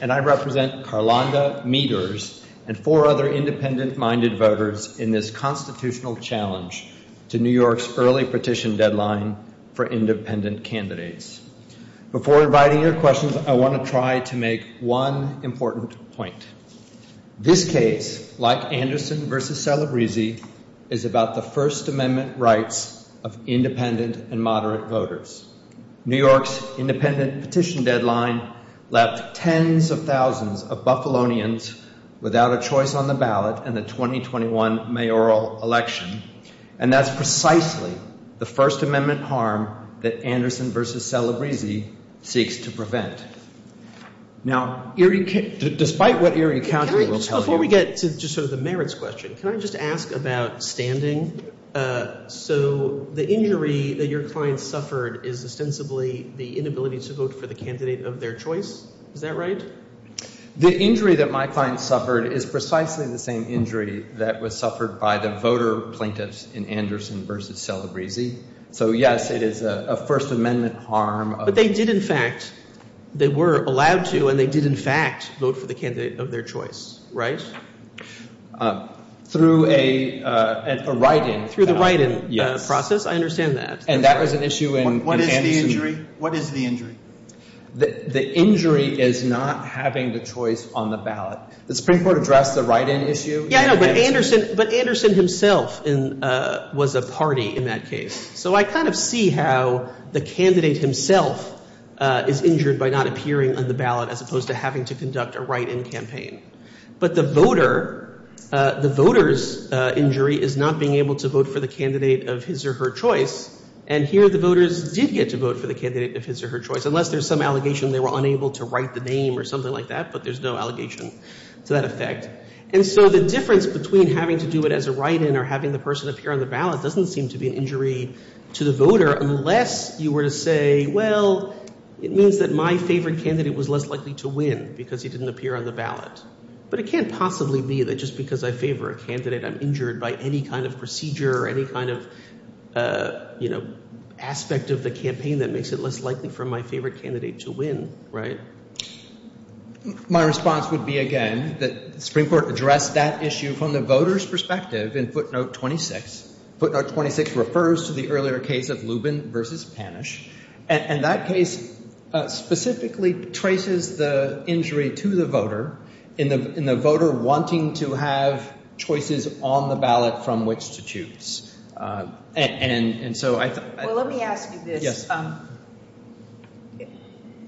and I represent Karlanda, Meadors, and four other independent-minded voters in this constitutional challenge to New York's early petition deadline for independent candidates. Before inviting your questions, I want to try to make one important point. This case, like Anderson v. Salabrisi, is about the First Amendment rights of independent and moderate voters. New York's independent petition deadline left tens of thousands of Buffalonians without a choice on the ballot in the 2021 mayoral election, and that's precisely the First Amendment harm that Anderson v. Salabrisi seeks to prevent. Now, despite what Erie County will tell you— Before we get to sort of the merits question, can I just ask about standing? So the injury that your client suffered is ostensibly the inability to vote for the candidate of their choice, is that right? The injury that my client suffered is precisely the same injury that was suffered by the voter plaintiffs in Anderson v. Salabrisi. So yes, it is a First Amendment harm. But they did, in fact—they were allowed to, and they did, in fact, vote for the candidate of their choice, right? Through a write-in. Through the write-in process? Yes. I understand that. And that was an issue in Anderson— What is the injury? What is the injury? The injury is not having the choice on the ballot. The Supreme Court addressed the write-in issue. Yeah, I know, but Anderson himself was a party in that case. So I kind of see how the candidate himself is injured by not appearing on the ballot as opposed to having to conduct a write-in campaign. But the voter—the voter's injury is not being able to vote for the candidate of his or her choice. And here the voters did get to vote for the candidate of his or her choice, unless there's some allegation they were unable to write the name or something like that. But there's no allegation to that effect. And so the difference between having to do it as a write-in or having the person appear on the ballot doesn't seem to be an injury to the voter, unless you were to say, well, it means that my favorite candidate was less likely to win because he didn't appear on the ballot. But it can't possibly be that just because I favor a candidate, I'm injured by any kind of procedure or any kind of, you know, aspect of the campaign that makes it less likely for my favorite candidate to win, right? My response would be, again, that the Supreme Court addressed that issue from the voter's perspective in footnote 26. Footnote 26 refers to the earlier case of Lubin v. Panish. And that case specifically traces the injury to the voter in the voter wanting to have choices on the ballot from which to choose. And so I... Well, let me ask you this.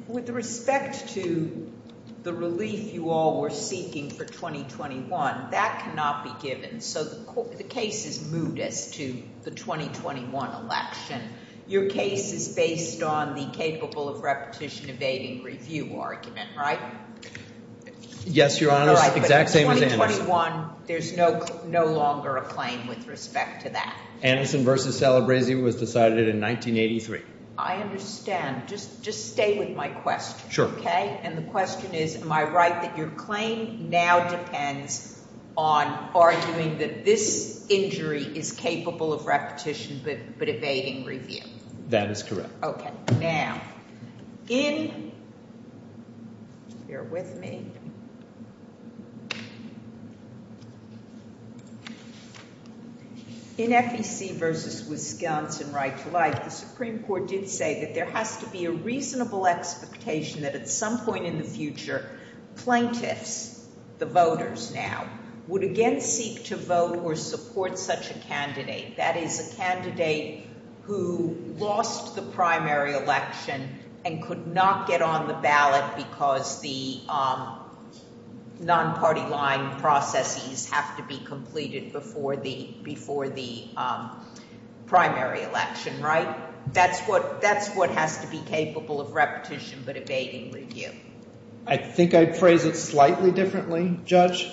With respect to the relief you all were seeking for 2021, that cannot be given. So the case is moot as to the 2021 election. Your case is based on the capable of repetition evading review argument, right? Yes, Your Honor. Exact same as Anderson. All right. But in 2021, there's no longer a claim with respect to that. Anderson v. Celebrezzi was decided in 1983. I understand. Just stay with my question. Sure. Okay? And the question is, am I right that your claim now depends on arguing that this injury is capable of repetition but evading review? That is correct. Okay. Now, in... Bear with me. In FEC v. Wisconsin Right to Life, the Supreme Court did say that there has to be a reasonable expectation that at some point in the future, plaintiffs, the voters now, would again seek to vote or support such a candidate, that is a candidate who lost the primary election and could not get on the ballot because the non-party line processes have to be completed before the primary election, right? That's what has to be capable of repetition but evading review. I think I'd phrase it slightly differently, Judge.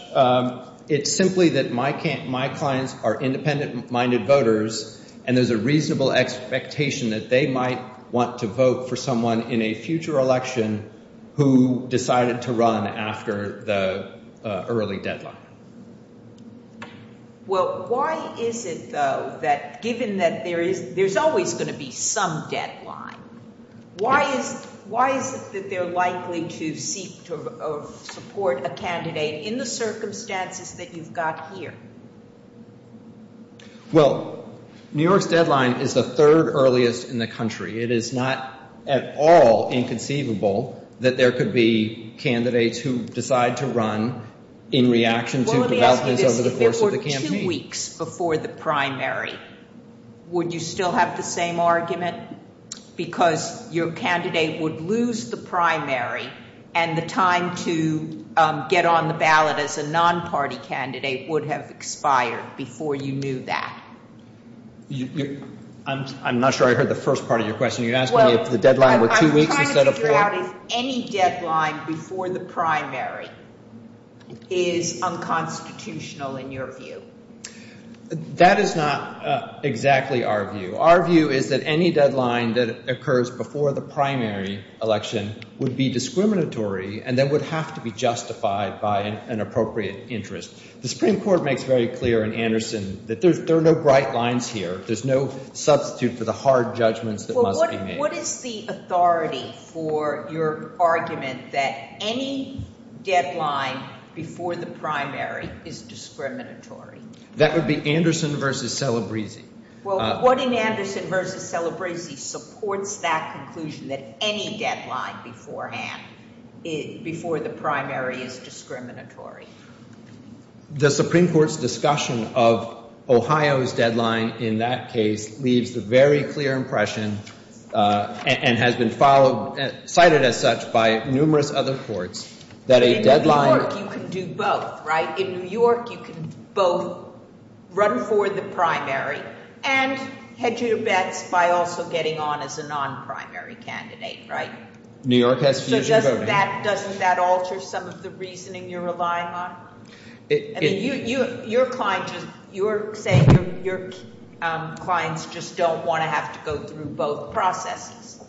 It's simply that my clients are independent-minded voters and there's a reasonable expectation that they might want to vote for someone in a future election who decided to run after the early deadline. Well, why is it, though, that given that there's always going to be some deadline, why is it that they're likely to seek to support a candidate in the circumstances that you've got here? Well, New York's deadline is the third earliest in the country. It is not at all inconceivable that there could be candidates who decide to run in reaction to developments over the course of the campaign. Well, let me ask you this. If there were two weeks before the primary, would you still have the same argument because your candidate would lose the primary and the time to get on the ballot as a non-party candidate would have expired before you knew that? I'm not sure I heard the first part of your question. You're asking me if the deadline were two weeks instead of four? I'm trying to figure out if any deadline before the primary is unconstitutional in your view. That is not exactly our view. Our view is that any deadline that occurs before the primary election would be discriminatory and then would have to be justified by an appropriate interest. The Supreme Court makes very clear in Anderson that there are no bright lines here. There's no substitute for the hard judgments that must be made. What is the authority for your argument that any deadline before the primary is discriminatory? That would be Anderson versus Celebrezzi. Well, what in Anderson versus Celebrezzi supports that conclusion that any deadline beforehand before the primary is discriminatory? The Supreme Court's discussion of Ohio's deadline in that case leaves a very clear impression and has been followed, cited as such by numerous other courts that a deadline... In New York, you can do both, right? In New York, you can both run for the primary and hedge your bets by also getting on as a non-primary candidate, right? New York has position voting. Doesn't that alter some of the reasoning you're relying on? I mean, you're saying your clients just don't want to have to go through both processes.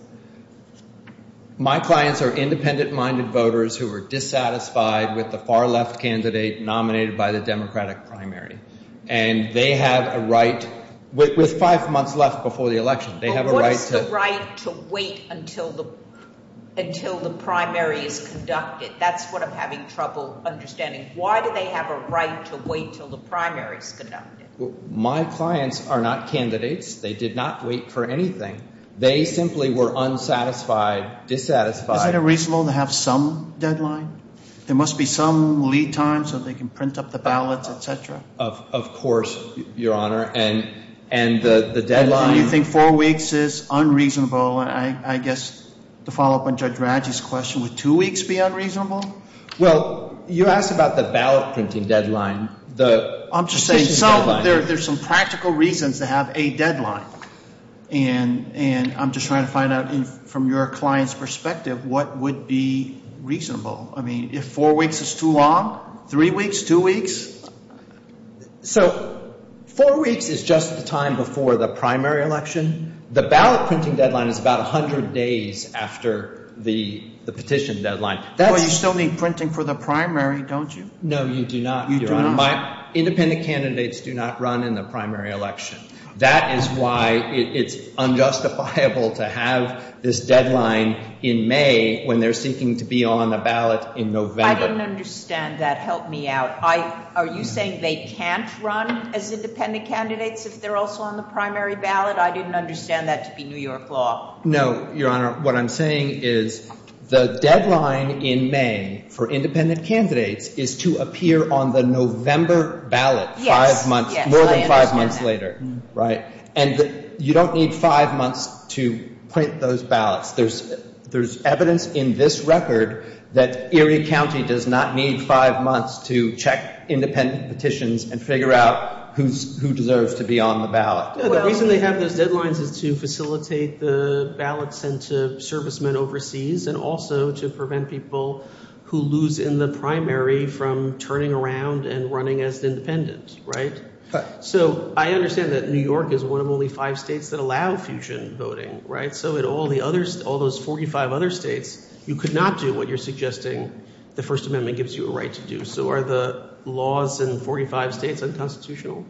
My clients are independent-minded voters who are dissatisfied with the far-left candidate nominated by the Democratic primary. And they have a right, with five months left before the election, they have a right to... But what is the right to wait until the primary is conducted? That's what I'm having trouble understanding. Why do they have a right to wait until the primary is conducted? Well, my clients are not candidates. They did not wait for anything. They simply were unsatisfied, dissatisfied. Is it reasonable to have some deadline? There must be some lead time so they can print up the ballots, et cetera. Of course, Your Honor. And the deadline... And you think four weeks is unreasonable. I guess, to follow up on Judge Radji's question, would two weeks be unreasonable? Well, you asked about the ballot printing deadline. I'm just saying there's some practical reasons to have a deadline. And I'm just trying to find out from your client's perspective what would be reasonable if four weeks is too long? Three weeks? Two weeks? So four weeks is just the time before the primary election. The ballot printing deadline is about 100 days after the petition deadline. Well, you still need printing for the primary, don't you? No, you do not, Your Honor. Independent candidates do not run in the primary election. That is why it's unjustifiable to have this deadline in May when they're seeking to be on the ballot in November. I didn't understand that. Help me out. Are you saying they can't run as independent candidates if they're also on the primary ballot? I didn't understand that to be New York law. No, Your Honor. What I'm saying is the deadline in May for independent candidates is to appear on the November ballot five months, more than five months later. Right? And you don't need five months to print those ballots. There's evidence in this record that Erie County does not need five months to check independent petitions and figure out who deserves to be on the ballot. The reason they have those deadlines is to facilitate the ballots sent to servicemen overseas and also to prevent people who lose in the primary from turning around and running as independent, right? So I understand that New York is one of only five states that allow fusion voting, right? So in all those 45 other states, you could not do what you're suggesting the First Amendment gives you a right to do. So are the laws in 45 states unconstitutional?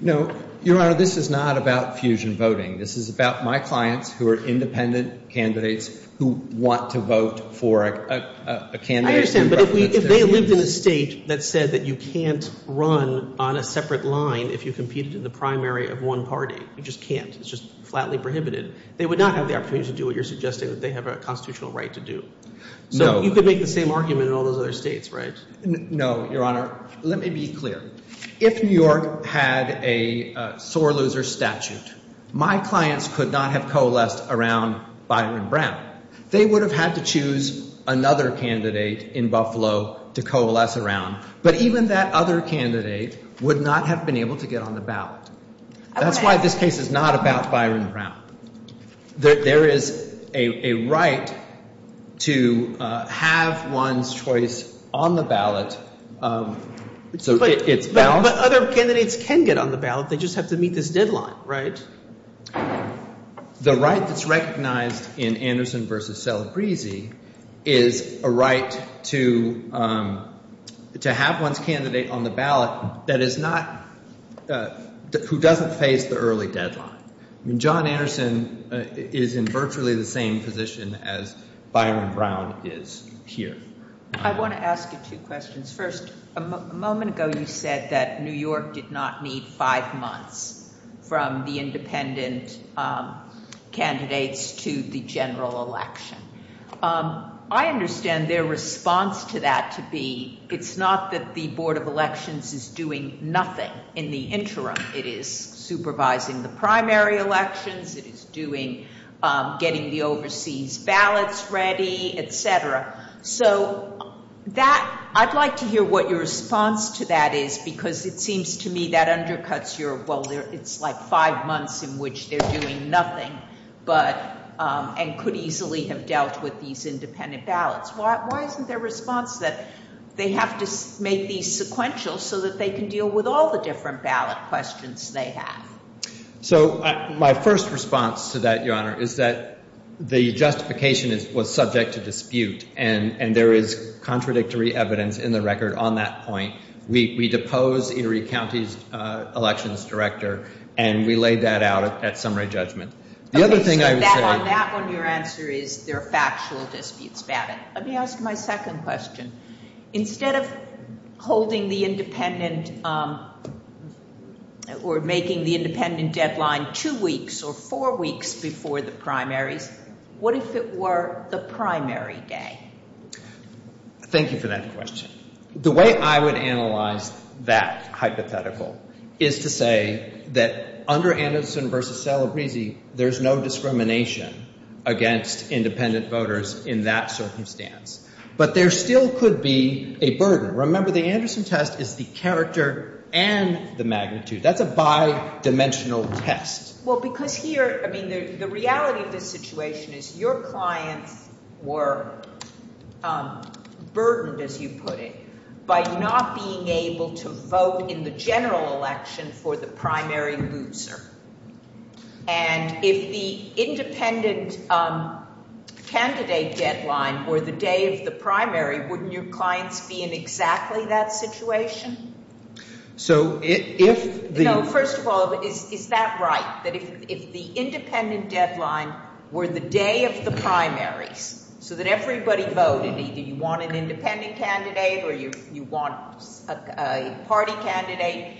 No. Your Honor, this is not about fusion voting. This is about my clients who are independent candidates who want to vote for a candidate. I understand, but if they lived in a state that said that you can't run on a separate line if you competed in the primary of one party, you just can't. It's just flatly prohibited. They would not have the opportunity to do what you're suggesting, that they have a constitutional right to do. So you could make the same argument in all those other states, right? No, Your Honor. Let me be clear. If New York had a sore loser statute, my clients could not have coalesced around Byron Brown. They would have had to choose another candidate in Buffalo to coalesce around, but even that other candidate would not have been able to get on the ballot. That's why this case is not about Byron Brown. There is a right to have one's choice on the ballot. But other candidates can get on the ballot. They just have to meet this deadline, right? The right that's recognized in Anderson v. Celebrezzi is a right to have one's candidate on the ballot that is not, who doesn't face the early deadline. I mean, John Anderson is in virtually the same position as Byron Brown is here. I want to ask you two questions. First, a moment ago you said that New York did not need five months from the independent candidates to the general election. I understand their response to that to be it's not that the Board of Elections is doing nothing in the interim. It is supervising the primary elections. It is doing, getting the overseas ballots ready, et cetera. So that, I'd like to hear what your response to that is because it seems to me that undercuts your, well, it's like five months in which they're doing nothing, but, and could easily have dealt with these independent ballots. Why isn't their response that they have to make these sequential so that they can deal with all the different ballot questions they have? So my first response to that, Your Honor, is that the justification was subject to dispute and there is contradictory evidence in the record on that point. We depose Erie County's elections director and we laid that out at summary judgment. The other thing I would say. On that one, your answer is there are factual disputes about it. Let me ask my second question. Instead of holding the independent or making the independent deadline two weeks or four weeks before the primaries, what if it were the primary day? Thank you for that question. The way I would analyze that hypothetical is to say that under Anderson versus Salabrisi, there's no discrimination against independent voters in that circumstance. But there still could be a burden. Remember, the Anderson test is the character and the magnitude. That's a bi-dimensional test. Well, because here, I mean, the reality of this situation is your clients were burdened, as you put it, by not being able to vote in the general election for the primary loser. And if the independent candidate deadline were the day of the primary, wouldn't your clients be in exactly that situation? So if the No, first of all, is that right? That if the independent deadline were the day of the primaries so that everybody voted, either you want an independent candidate or you want a party candidate,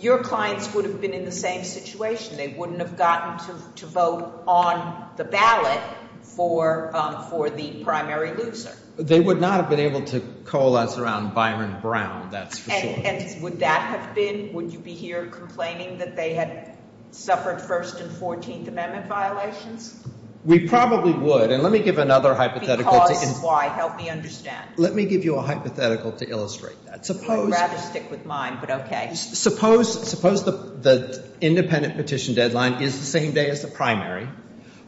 your clients would have been in the same situation. They wouldn't have gotten to vote on the ballot for the primary loser. They would not have been able to coalesce around Byron Brown, that's for sure. And would that have been, would you be here complaining that they had suffered First and Fourteenth Amendment violations? We probably would. And let me give another hypothetical. Because, why? Help me understand. Let me give you a hypothetical to illustrate that. I'd rather stick with mine, but okay. Suppose the independent petition deadline is the same day as the primary,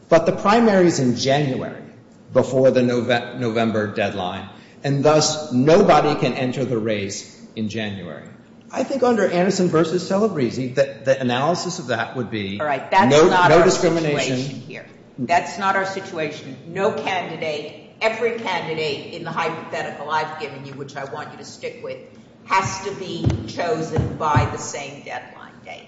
but the primary is in January before the November deadline. And thus, nobody can enter the race in January. I think under Anderson v. Celebrezzi, the analysis of that would be no discrimination. That's not our situation. No candidate, every candidate in the hypothetical I've given you, which I want you to stick with, has to be chosen by the same deadline date.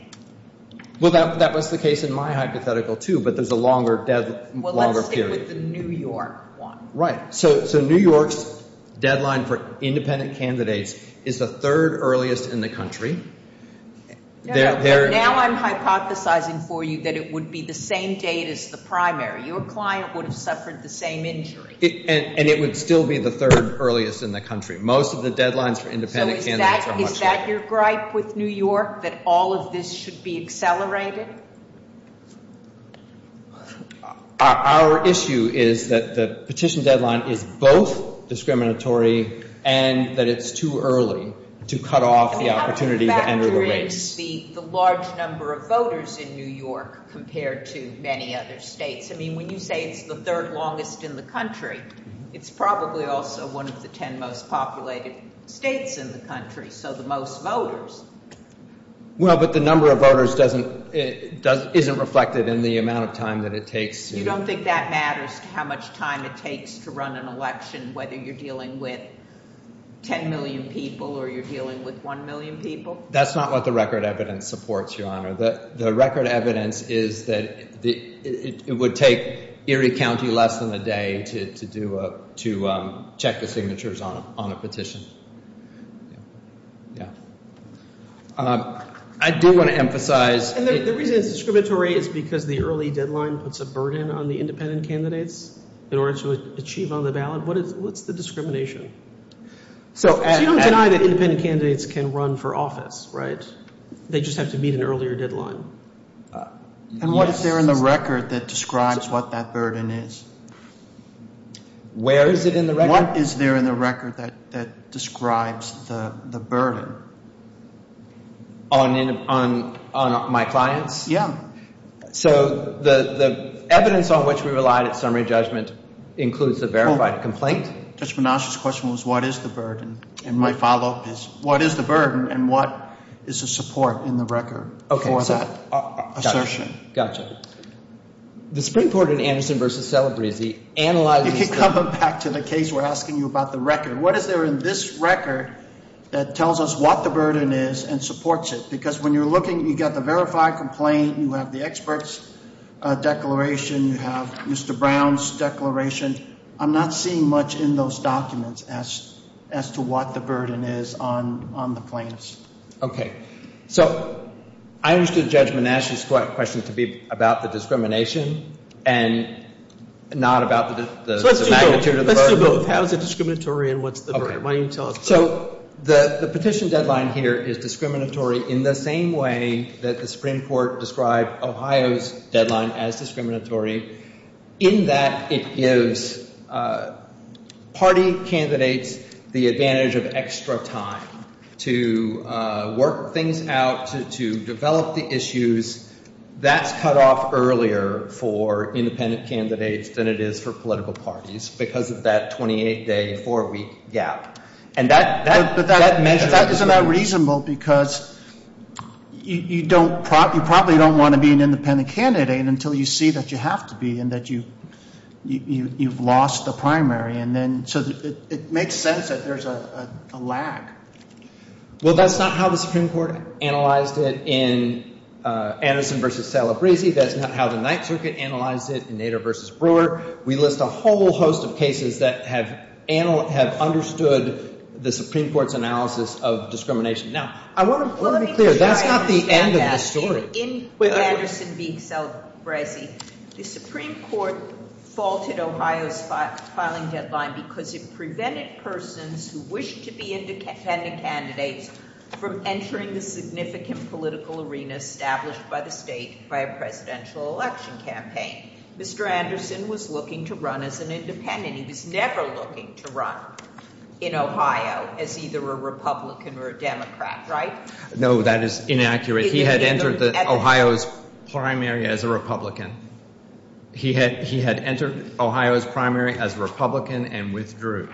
Well, that was the case in my hypothetical, too, but there's a longer period. Well, let's stick with the New York one. Right. So, New York's deadline for independent candidates is the third earliest in the country. Now I'm hypothesizing for you that it would be the same date as the primary. Your client would have suffered the same injury. And it would still be the third earliest in the country. Most of the deadlines for independent candidates are much later. So, is that your gripe with New York, that all of this should be accelerated? Our issue is that the petition deadline is both discriminatory and that it's too early to cut off the opportunity to enter the race. The large number of voters in New York compared to many other states. I mean, when you say it's the third longest in the country, it's probably also one of the ten most populated states in the country, so the most voters. Well, but the number of voters doesn't, isn't reflected in the amount of time that it takes. You don't think that matters, how much time it takes to run an election, whether you're dealing with ten million people or you're dealing with one million people? That's not what the record evidence supports, Your Honor. The record evidence is that it would take Erie County less than a day to do a, to check the signatures on a petition. Yeah. I do want to emphasize. And the reason it's discriminatory is because the early deadline puts a burden on the independent candidates in order to achieve on the ballot. What is, what's the discrimination? So you don't deny that independent candidates can run for office, right? They just have to meet an earlier deadline. And what is there in the record that describes what that burden is? Where is it in the record? What is there in the record that describes the burden? On my clients? Yeah. So the evidence on which we relied at summary judgment includes the verified complaint? Judge Menasche's question was what is the burden? And my follow-up is what is the burden and what is the support in the record for that assertion? Gotcha. The Supreme Court in Anderson v. Celebre is the analyzing. If you come back to the case, we're asking you about the record. What is there in this record that tells us what the burden is and supports it? Because when you're looking, you've got the verified complaint, you have the expert's declaration, you have Mr. Brown's declaration. I'm not seeing much in those documents as to what the burden is on the plaintiffs. Okay. So I understood Judge Menasche's question to be about the discrimination and not about the magnitude of the burden. Let's do both. How is it discriminatory and what's the burden? Why don't you tell us both? So the petition deadline here is discriminatory in the same way that the Supreme Court described Ohio's deadline as discriminatory in that it gives party candidates the advantage of extra time to work things out, to develop the issues. That's cut off earlier for independent candidates than it is for political parties because of that 28-day, four-week gap. But that is not reasonable because you probably don't want to be an independent candidate until you see that you have to be and that you've lost the primary. And so it makes sense that there's a lag. Well, that's not how the Supreme Court analyzed it in Anderson v. Salabrisi. That's not how the Ninth Circuit analyzed it in Nader v. Brewer. We list a whole host of cases that have understood the Supreme Court's analysis of discrimination. Now, I want to be clear. That's not the end of the story. In Anderson v. Salabrisi, the Supreme Court faulted Ohio's filing deadline because it prevented persons who wished to be independent candidates from entering the significant political arena established by the state by a presidential election campaign. Mr. Anderson was looking to run as an independent. He was never looking to run in Ohio as either a Republican or a Democrat, right? No, that is inaccurate. He had entered Ohio's primary as a Republican. He had entered Ohio's primary as a Republican and withdrew.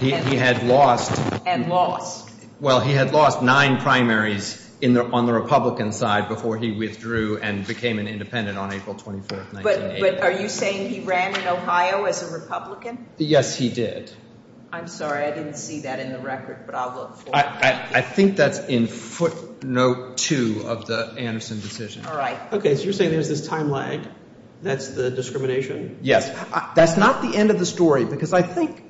He had lost. And lost. Well, he had lost nine primaries on the Republican side before he withdrew and became an independent on April 24th, 1998. But are you saying he ran in Ohio as a Republican? Yes, he did. I'm sorry, I didn't see that in the record, but I'll look for it. I think that's in footnote two of the Anderson decision. All right. Okay, so you're saying there's this time lag? That's the discrimination? Yes. That's not the end of the story because I think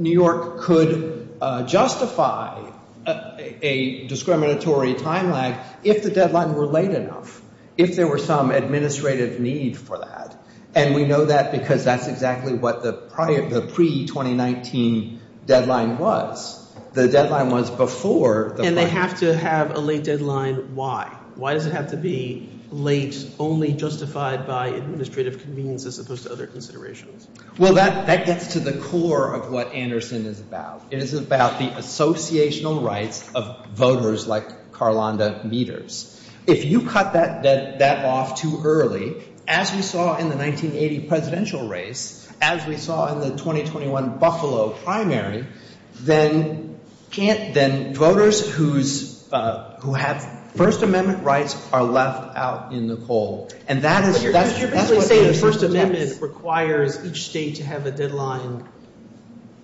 New York could justify a discriminatory time lag if the deadline were late enough, if there were some administrative need for that. And we know that because that's exactly what the pre-2019 deadline was. The deadline was before. And they have to have a late deadline. Why? Why does it have to be late, only justified by administrative conveniences as opposed to other considerations? Well, that gets to the core of what Anderson is about. It is about the associational rights of voters like Karlanda Meaders. If you cut that off too early, as we saw in the 1980 presidential race, as we saw in the 2021 Buffalo primary, then voters who have First Amendment rights are left out in the cold. And that is what Anderson does. But you're basically saying the First Amendment requires each state to have a deadline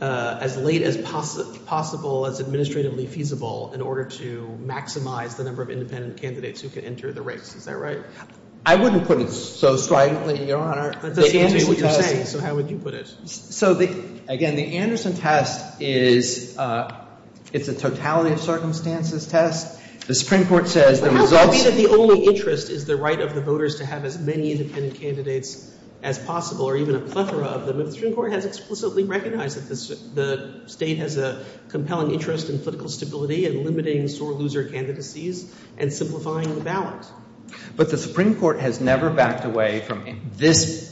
as late as possible, as administratively feasible in order to maximize the number of independent candidates who can enter the race. Is that right? I wouldn't put it so strikingly, Your Honor. That doesn't say what you're saying, so how would you put it? So, again, the Anderson test is a totality of circumstances test. The Supreme Court says the results... ...to have as many independent candidates as possible, or even a plethora of them. The Supreme Court has explicitly recognized that the state has a compelling interest in political stability and limiting sore loser candidacies and simplifying the ballot. But the Supreme Court has never backed away from this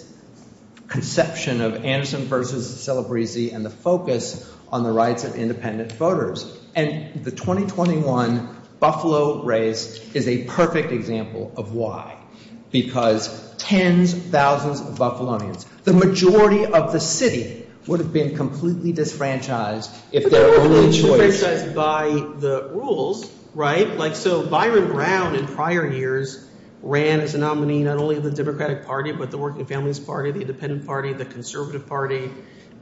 conception of Anderson versus Celebrezee and the focus on the rights of independent voters. And the 2021 Buffalo race is a perfect example of why. Because tens, thousands of Buffalonians, the majority of the city, would have been completely disfranchised if there were only choice. Disfranchised by the rules, right? Like, so Byron Brown in prior years ran as a nominee not only of the Democratic Party, but the Working Families Party, the Independent Party, the Conservative Party,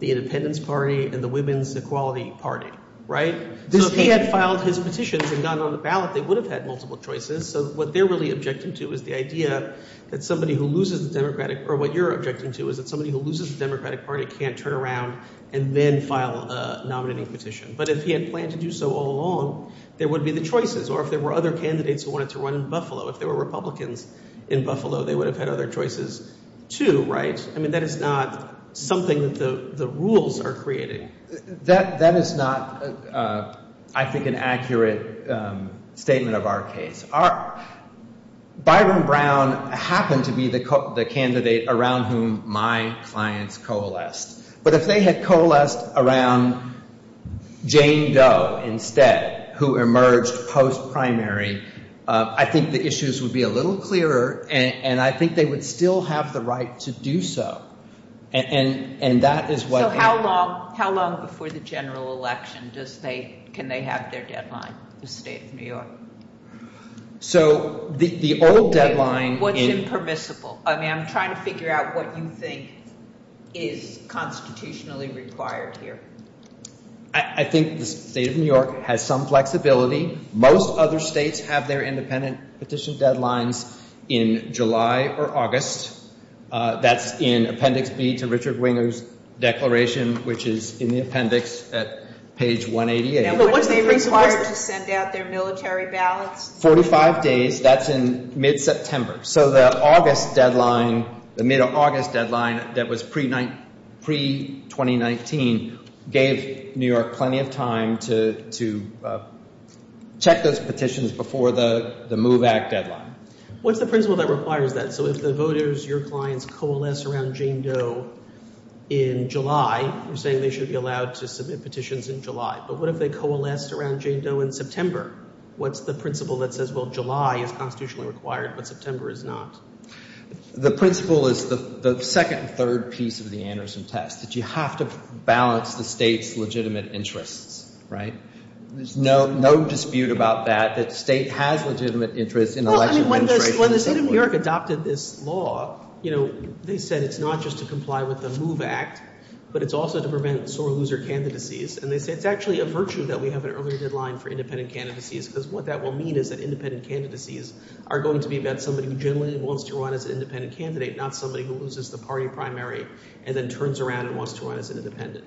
the Independence Party, and the Women's Equality Party, right? If he had filed his petitions and gone on the ballot, they would have had multiple choices. So what they're really objecting to is the idea that somebody who loses the Democratic, or what you're objecting to is that somebody who loses the Democratic Party can't turn around and then file a nominating petition. But if he had planned to do so all along, there would be the choices. Or if there were other candidates who wanted to run in Buffalo, if there were Republicans in Buffalo, they would have had other choices too, right? I mean, that is not something that the rules are creating. That is not, I think, an accurate statement of our case. Our, Byron Brown happened to be the candidate around whom my clients coalesced. But if they had coalesced around Jane Doe instead, who emerged post-primary, I think the issues would be a little clearer. And I think they would still have the right to do so. And that is what. How long before the general election can they have their deadline, the State of New York? So the old deadline. What's impermissible? I mean, I'm trying to figure out what you think is constitutionally required here. I think the State of New York has some flexibility. Most other states have their independent petition deadlines in July or August. That's in Appendix B to Richard Winger's declaration, which is in the appendix at page 188. Now, what is it required to send out their military ballots? Forty-five days. That's in mid-September. So the August deadline, the mid-August deadline that was pre-2019 gave New York plenty of time to check those petitions before the MOVE Act deadline. What's the principle that requires that? So if the voters, your clients, coalesce around Jane Doe in July, you're saying they should be allowed to submit petitions in July. But what if they coalesced around Jane Doe in September? What's the principle that says, well, July is constitutionally required, but September is not? The principle is the second and third piece of the Anderson test, that you have to balance the state's legitimate interests, right? There's no dispute about that, that the state has legitimate interests in election administration. Well, I mean, when the state of New York adopted this law, you know, they said it's not just to comply with the MOVE Act, but it's also to prevent sore loser candidacies. And they said it's actually a virtue that we have an earlier deadline for independent candidacies, because what that will mean is that independent candidacies are going to be about somebody who generally wants to run as an independent candidate, not somebody who loses the party primary and then turns around and wants to run as an independent.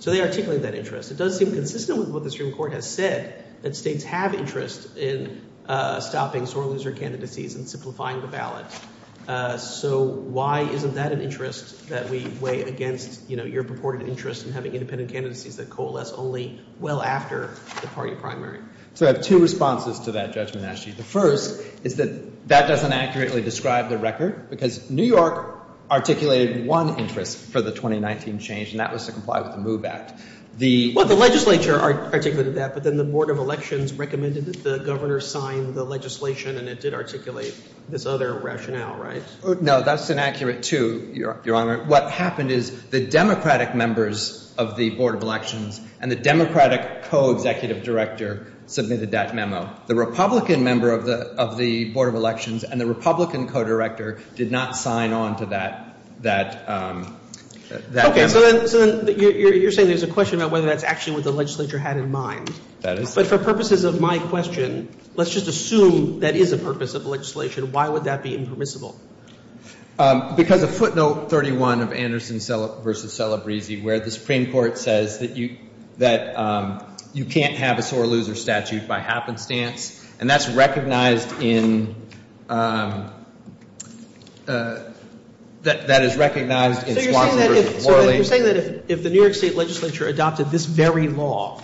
So they articulate that interest. It does seem consistent with what the Supreme Court has said, that states have interest in stopping sore loser candidacies and simplifying the ballot. So why isn't that an interest that we weigh against, you know, your purported interest in having independent candidacies that coalesce only well after the party primary? So I have two responses to that judgment, actually. The first is that that doesn't accurately describe the record, because New York articulated one interest for the 2019 change, and that was to comply with the MOVE Act. The... Well, the legislature articulated that, but then the Board of Elections recommended that the governor sign the legislation, and it did articulate this other rationale, right? No, that's inaccurate, too, Your Honor. What happened is the Democratic members of the Board of Elections and the Democratic co-executive director submitted that memo. The Republican member of the Board of Elections and the Republican co-director did not sign on to that memo. Okay, so then you're saying there's a question about whether that's actually what the legislature had in mind. That is. But for purposes of my question, let's just assume that is a purpose of the legislation. Why would that be impermissible? Because of footnote 31 of Anderson v. Celebrezzi, where the Supreme Court says that you can't have a sore loser statute by happenstance, and that's recognized in... that is recognized in Swanson v. Morley. So you're saying that if the New York State legislature adopted this very law,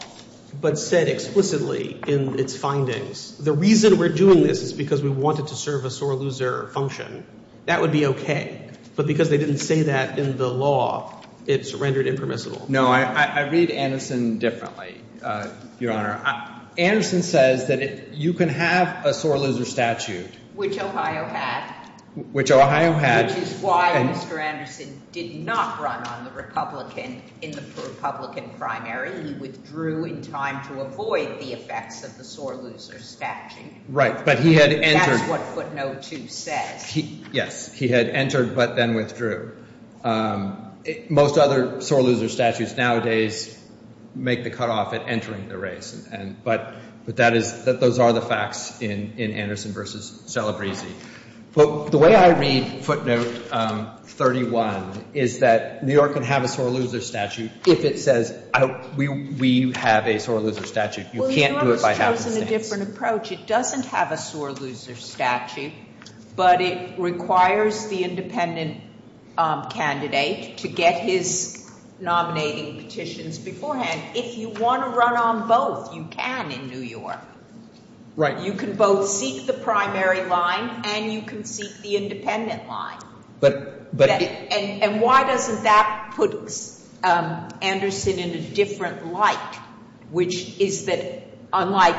but said explicitly in its findings, the reason we're doing this is because we wanted to serve a sore loser function, that would be okay. But because they didn't say that in the law, it's rendered impermissible. No, I read Anderson differently, Your Honor. Anderson says that you can have a sore loser statute. Which Ohio had. Which Ohio had. Which is why Mr. Anderson did not run on the Republican... in the Republican primary. He withdrew in time to avoid the effects of the sore loser statute. Right. But he had entered... That's what footnote 2 says. Yes. He had entered, but then withdrew. Most other sore loser statutes nowadays make the cutoff at entering the race. But that is... those are the facts in Anderson v. Celebrezzi. But the way I read footnote 31 is that New York can have a sore loser statute if it says we have a sore loser statute. You can't do it by happenstance. Well, New York has chosen a different approach. It doesn't have a sore loser statute, but it requires the independent candidate to get his nominating petitions beforehand. If you want to run on both, you can in New York. Right. You can both seek the primary line and you can seek the independent line. But... And why doesn't that put Anderson in a different light, which is that unlike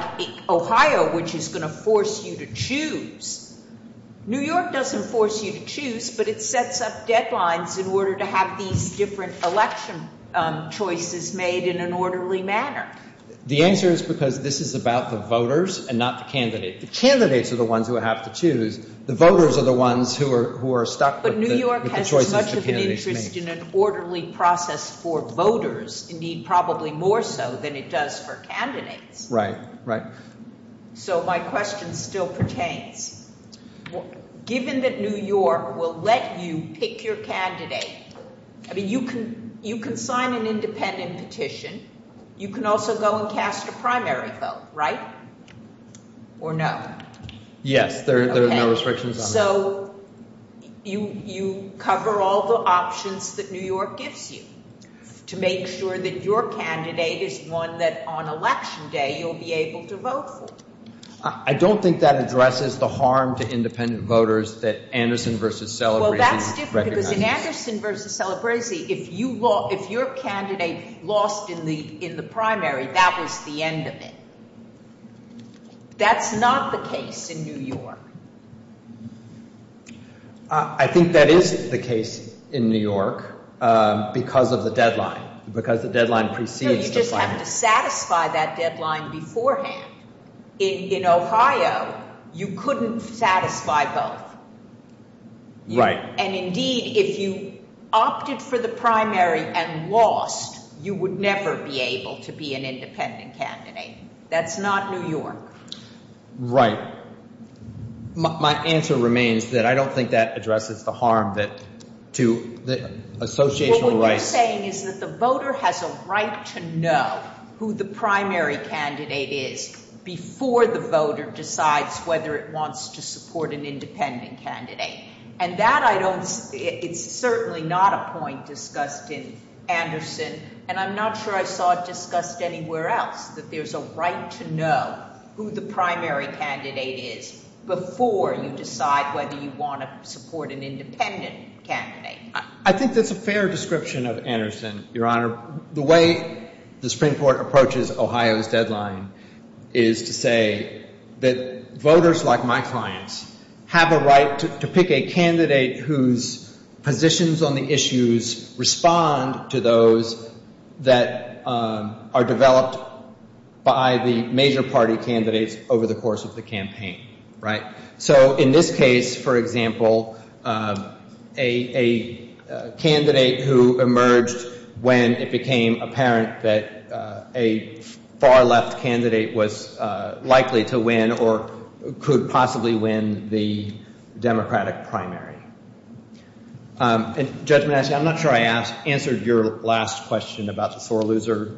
Ohio, which is going to force you to choose, New York doesn't force you to choose, but it sets up deadlines in order to have these different election choices made in an orderly manner. The answer is because this is about the voters and not the candidate. The candidates are the ones who have to choose. The voters are the ones who are stuck with the choices the candidate makes. But New York has much of an interest in an orderly process for voters, indeed probably more so than it does for candidates. Right. Right. So my question still pertains. Given that New York will let you pick your candidate, I mean, you can sign an independent petition. You can also go and cast a primary vote, right? Or no? Yes, there are no restrictions on that. So you cover all the options that New York gives you to make sure that your candidate is one that on election day you'll be able to vote for? I don't think that addresses the harm to independent voters that Anderson versus Celebresi recognizes. Well, that's different, because in Anderson versus Celebresi, if your candidate lost in the primary, that was the end of it. That's not the case in New York. I think that is the case in New York, because of the deadline. Because the deadline precedes the final. No, you just have to satisfy that deadline beforehand. In Ohio, you couldn't satisfy both. Right. And indeed, if you opted for the primary and lost, you would never be able to be an independent candidate. That's not New York. Right. My answer remains that I don't think that addresses the harm that to the associational rights... What you're saying is that the voter has a right to know who the primary candidate is before the voter decides whether it wants to support an independent candidate. And that I don't... It's certainly not a point discussed in Anderson, and I'm not sure I saw it discussed anywhere else, that there's a right to know who the primary candidate is before you decide whether you want to support an independent candidate. I think that's a fair description of Anderson, Your Honour. The way the Supreme Court approaches Ohio's deadline is to say that voters like my clients have a right to pick a candidate whose positions on the issues respond to those that are developed by the major party candidates over the course of the campaign. Right? So in this case, for example, a candidate who emerged when it became apparent that a far-left candidate was likely to win or could possibly win the Democratic primary. And, Judge Manasseh, I'm not sure I answered your last question about the sore loser...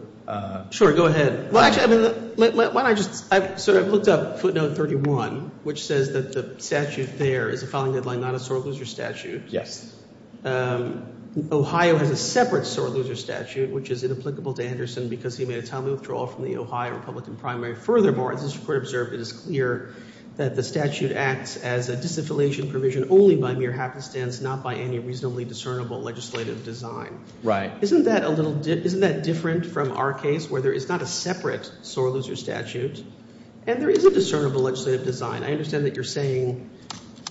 Sure, go ahead. Well, actually, why don't I just... Sir, I've looked up footnote 31, which says that the statute there is a filing deadline, not a sore loser statute. Yes. Ohio has a separate sore loser statute, which is inapplicable to Anderson because he made a timely withdrawal from the Ohio Republican primary. Furthermore, as the Supreme Court observed, it is clear that the statute acts as a disaffiliation provision only by mere happenstance, not by any reasonably discernible legislative design. Right. Isn't that different from our case where there is not a separate sore loser statute and there is a discernible legislative design? I understand that you're saying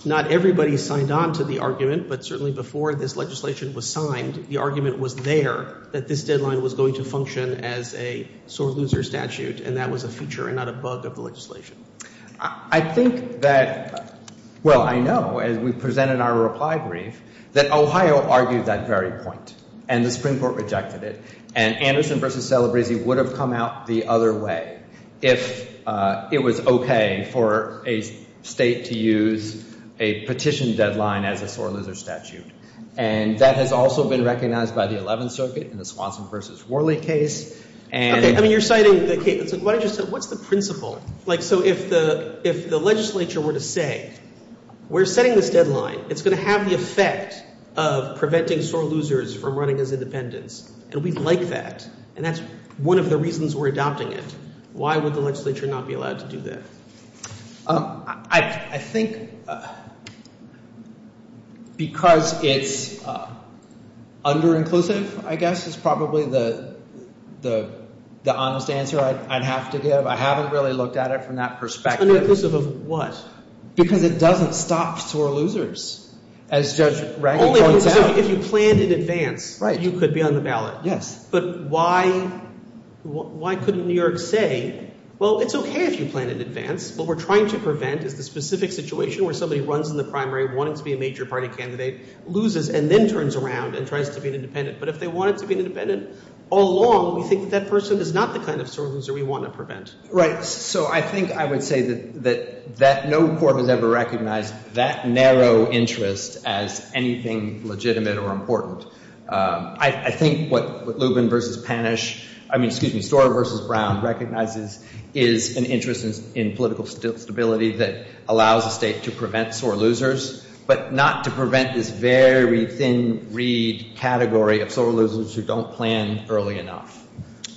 not everybody signed on to the argument, but certainly before this legislation was signed, the argument was there that this deadline was going to function as a sore loser statute, and that was a feature and not a bug of the legislation. I think that... Well, I know, as we presented our reply brief, that Ohio argued that very point, and the Supreme Court rejected it, and Anderson v. Celebrezzi would have come out the other way if it was okay for a state to use a petition deadline as a sore loser statute. And that has also been recognized by the Eleventh Circuit in the Swanson v. Worley case, and... Okay, I mean, you're citing the case... What I just said, what's the principle? Like, so if the legislature were to say, we're setting this deadline, it's going to have the effect of preventing sore losers from running as independents, and we'd like that, and that's one of the reasons we're adopting it, why would the legislature not be allowed to do that? I think... because it's under-inclusive, I guess, is probably the honest answer I'd have to give. It's under-inclusive. I haven't really looked at it from that perspective. Under-inclusive of what? Because it doesn't stop sore losers, as Judge Reagan points out. Only if you planned in advance, you could be on the ballot. Yes. But why couldn't New York say, well, it's okay if you plan in advance. What we're trying to prevent is the specific situation where somebody runs in the primary, wanting to be a major party candidate, loses and then turns around and tries to be an independent. But if they wanted to be an independent all along, we think that that person is not the kind of sore loser we want to prevent. Right. So I think I would say that no court has ever recognized that narrow interest as anything legitimate or important. I think what Lubin v. Panish... I mean, excuse me, Storer v. Brown recognizes is an interest in political stability that allows a state to prevent sore losers, but not to prevent this very thin-reed category of sore losers who don't plan early enough.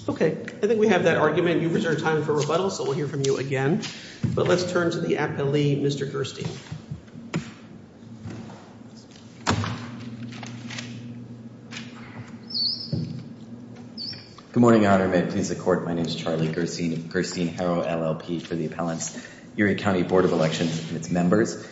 Okay. I think we have that argument. You've reserved time for rebuttal, so we'll hear from you again. But let's turn to the appellee, Mr. Gerstein. Good morning, Your Honor. May it please the Court, my name is Charlie Gerstein, Gerstein-Harrow LLP for the appellants, Erie County Board of Elections and its members.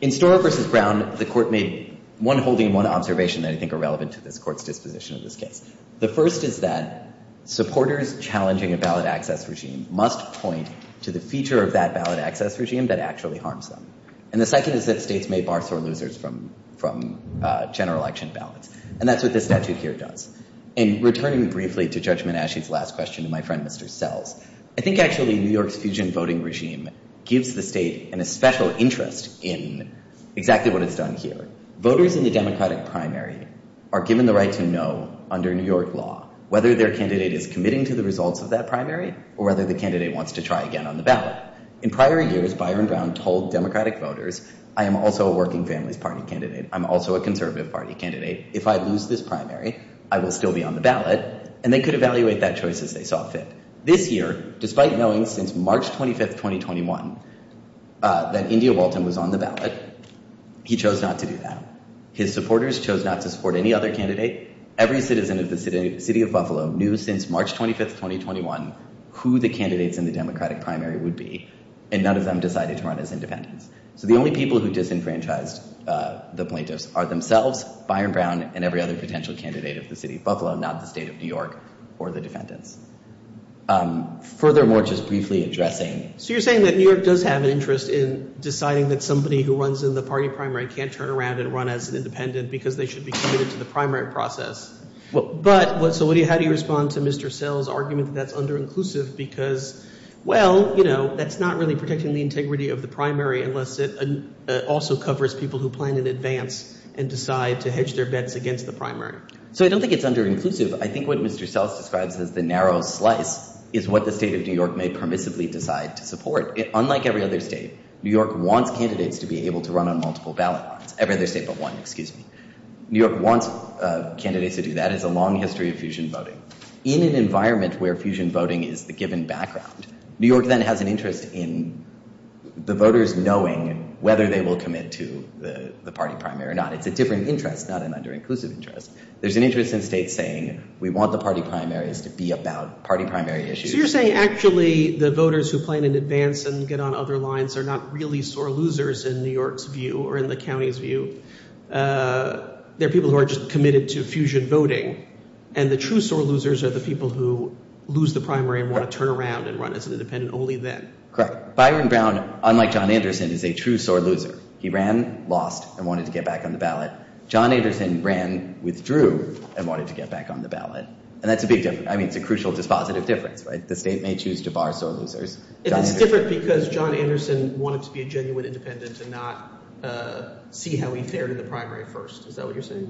In Storer v. Brown, the Court made one holding and one observation that I think are relevant to this Court's disposition of this case. The first is that supporters challenging a ballot access regime must point to the feature of that ballot access regime that actually harms them. And the second is that states may bar sore losers from general election ballots. And that's what this statute here does. And returning briefly to Judge Manashi's last question and my friend Mr. Sells, I think actually New York's fusion voting regime gives the state an especial interest in exactly what it's done here. Voters in the Democratic primary are given the right to know under New York law whether their candidate is committing to the results of that primary or whether the candidate wants to try again on the ballot. In prior years, Byron Brown told Democratic voters, I am also a Working Families Party candidate. I'm also a Conservative Party candidate. If I lose this primary, I will still be on the ballot. And they could evaluate that choice as they saw fit. that India Walton was on the ballot, he chose not to do that. His supporters chose not to support any other candidate. Every citizen of the city of Buffalo knew since March 25, 2021 who the candidates in the Democratic primary would be. And none of them decided to run as independents. So the only people who disenfranchised the plaintiffs are themselves, Byron Brown, and every other potential candidate of the city of Buffalo, not the state of New York or the defendants. Furthermore, just briefly addressing... So you're saying that New York does have an interest in deciding that somebody who runs in the party primary can't turn around and run as an independent because they should be committed to the primary process. So how do you respond to Mr. Sells' argument that that's under-inclusive because, well, you know, that's not really protecting the integrity of the primary unless it also covers people who plan in advance and decide to hedge their bets against the primary. So I don't think it's under-inclusive. I think what Mr. Sells describes as the narrow slice is what the state of New York may permissively decide to support. Unlike every other state, New York wants candidates to be able to run on multiple ballot lots. Every other state but one, excuse me. New York wants candidates to do that. It has a long history of fusion voting. In an environment where fusion voting is the given background, New York then has an interest in the voters knowing whether they will commit to the party primary or not. It's a different interest, not an under-inclusive interest. There's an interest in states saying, we want the party primaries to be about party primary issues. So you're saying actually the voters who plan in advance and get on other lines are not really sore losers in New York's view or in the county's view. They're people who are just committed to fusion voting. And the true sore losers are the people who lose the primary and want to turn around and run as an independent only then. Correct. Byron Brown, unlike John Anderson, is a true sore loser. He ran, lost, and wanted to get back on the ballot. John Anderson ran, withdrew, and wanted to get back on the ballot. And that's a big difference. I mean, it's a crucial dispositive difference, right? The state may choose to bar sore losers. It's different because John Anderson wanted to be a genuine independent and not see how he fared in the primary first. Is that what you're saying?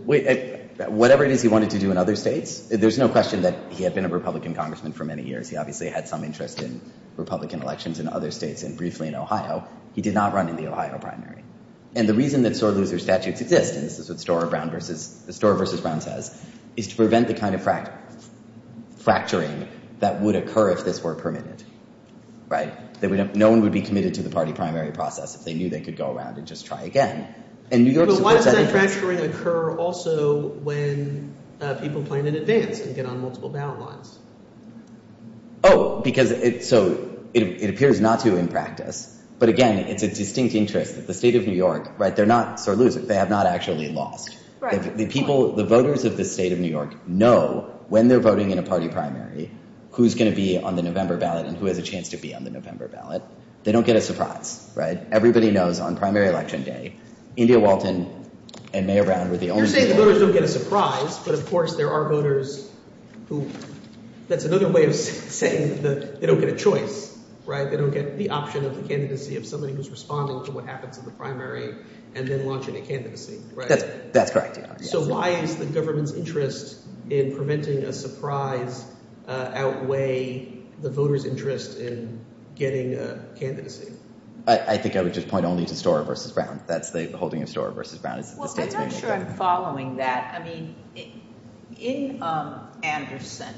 Whatever it is he wanted to do in other states, there's no question that he had been a Republican congressman for many years. He obviously had some interest in Republican elections in other states and briefly in Ohio. He did not run in the Ohio primary. And the reason that sore loser statutes exist, and this is what Storer v. Brown says, is to prevent the kind of fracturing that would occur if this were permitted. Right? No one would be committed to the party primary process if they knew they could go around and just try again. But why does that fracturing occur also when people plan in advance and get on multiple ballot lines? Oh, because it appears not to in practice. But again, it's a distinct interest that the state of New York, they're not sore losers. They have not actually lost. The voters of the state of New York know when they're voting in a party primary who's going to be on the November ballot and who has a chance to be on the November ballot. They don't get a surprise. Everybody knows on primary election day, India Walton and Mayor Brown were the only people. You're saying the voters don't get a surprise, but, of course, there are voters who, that's another way of saying that they don't get a choice. They don't get the option of the candidacy of somebody who's responding to what happens in the primary and then launching a candidacy. That's correct. So why is the government's interest in preventing a surprise outweigh the voters' interest in getting a candidacy? I think I would just point only to Storer v. Brown. That's the holding of Storer v. Brown. I'm not sure I'm following that. I mean, in Anderson,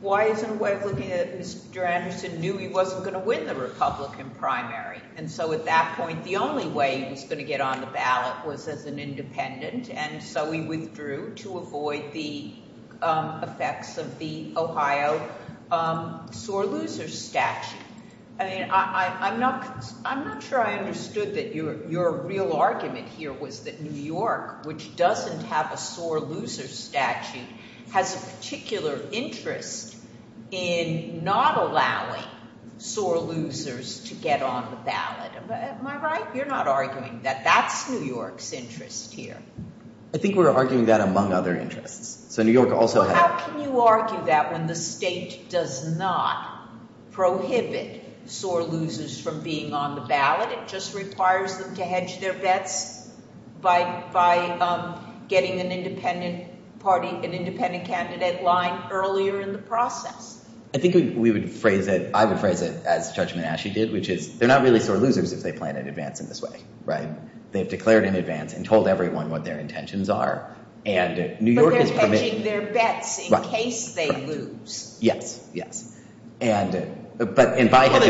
why isn't it that Mr. Anderson knew he wasn't going to win the Republican primary? And so at that point, the only way he was going to get on the ballot was as an independent, and so he withdrew to avoid the effects of the Ohio sore losers statute. I mean, I'm not sure I understood that your real argument here was that New York, which doesn't have a sore losers statute, has a particular interest in not allowing sore losers to get on the ballot. Am I right? You're not arguing that that's New York's interest here. I think we're arguing that among other interests. How can you argue that when the state does not prohibit sore losers from being on the ballot? It just requires them to hedge their bets by getting an independent candidate line earlier in the process. I think we would phrase it, I would phrase it as Judge Menasche did, which is they're not really sore losers if they plan in advance in this way, right? They've declared in advance and told everyone what their intentions are. But they're hedging their bets in case they lose. Yes, yes. Well, they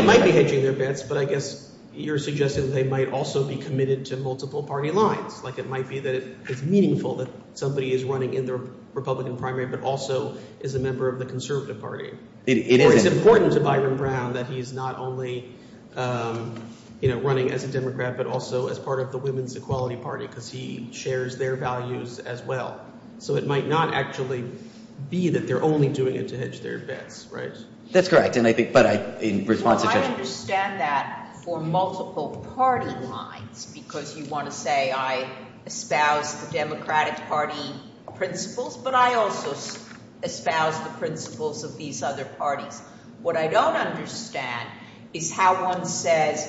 might be hedging their bets, but I guess you're suggesting they might also be committed to multiple party lines. Like it might be that it's meaningful that somebody is running in the Republican primary but also is a member of the conservative party. Or it's important to Byron Brown that he's not only running as a Democrat, but also as part of the Women's Equality Party because he shares their values as well. So it might not actually be that they're only doing it to hedge their bets, right? That's correct. Well, I understand that for multiple party lines because you want to say I espouse the Democratic Party principles, but I also espouse the principles of these other parties. What I don't understand is how one says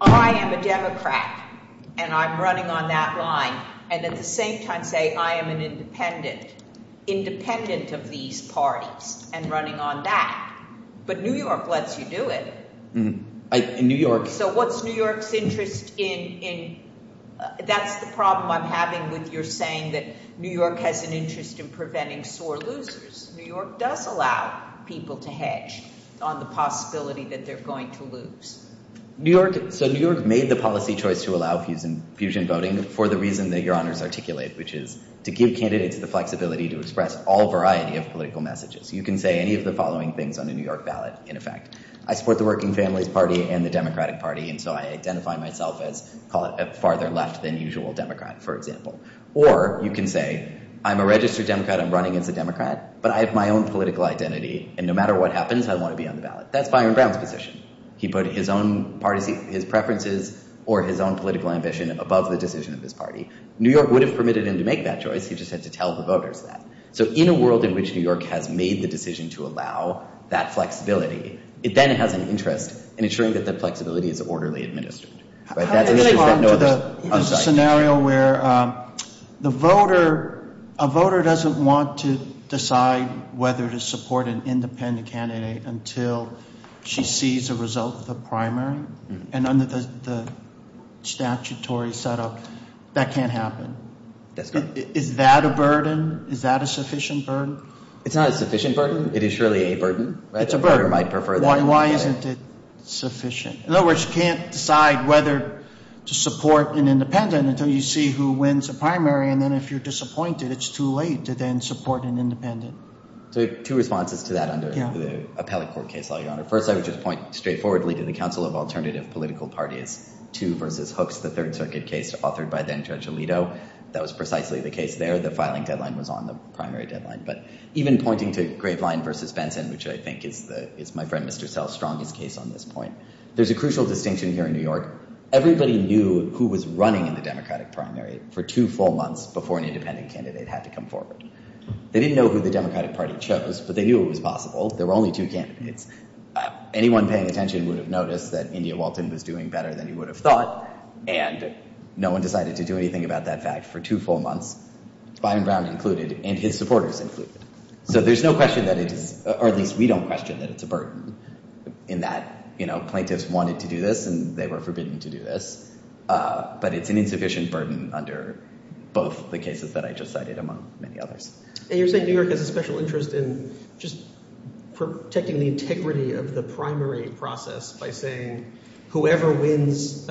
I am a Democrat and I'm running on that line and at the same time say I am an independent of these parties and running on that. But New York lets you do it. So what's New York's interest in – that's the problem I'm having with your saying that New York has an interest in preventing sore losers. New York does allow people to hedge on the possibility that they're going to lose. So New York made the policy choice to allow fusion voting for the reason that your honors articulate, which is to give candidates the flexibility to express all variety of political messages. You can say any of the following things on a New York ballot, in effect. I support the Working Families Party and the Democratic Party, and so I identify myself as a farther left than usual Democrat, for example. Or you can say I'm a registered Democrat, I'm running as a Democrat, but I have my own political identity, and no matter what happens, I want to be on the ballot. That's Byron Brown's position. He put his own preferences or his own political ambition above the decision of his party. New York would have permitted him to make that choice. He just had to tell the voters that. So in a world in which New York has made the decision to allow that flexibility, it then has an interest in ensuring that that flexibility is orderly administered. How do you respond to the scenario where a voter doesn't want to decide whether to support an independent candidate until she sees a result of the primary? And under the statutory setup, that can't happen. That's correct. Is that a burden? Is that a sufficient burden? It's not a sufficient burden. It is surely a burden. It's a burden. A voter might prefer that. Why isn't it sufficient? In other words, you can't decide whether to support an independent until you see who wins a primary, and then if you're disappointed, it's too late to then support an independent. So two responses to that under the appellate court case, Your Honor. First, I would just point straightforwardly to the Council of Alternative Political Parties, 2 versus Hooks, the Third Circuit case authored by then-Judge Alito. That was precisely the case there. The filing deadline was on the primary deadline. But even pointing to Graveline versus Benson, which I think is my friend Mr. Sell's strongest case on this point, there's a crucial distinction here in New York. Everybody knew who was running in the Democratic primary for two full months before an independent candidate had to come forward. They didn't know who the Democratic Party chose, but they knew it was possible. There were only two candidates. Anyone paying attention would have noticed that India Walton was doing better than you would have thought, and no one decided to do anything about that fact for two full months, Biden Brown included and his supporters included. So there's no question that it is, or at least we don't question that it's a burden in that, you know, plaintiffs wanted to do this and they were forbidden to do this, but it's an insufficient burden under both the cases that I just cited among many others. And you're saying New York has a special interest in just protecting the integrity of the primary process by saying whoever wins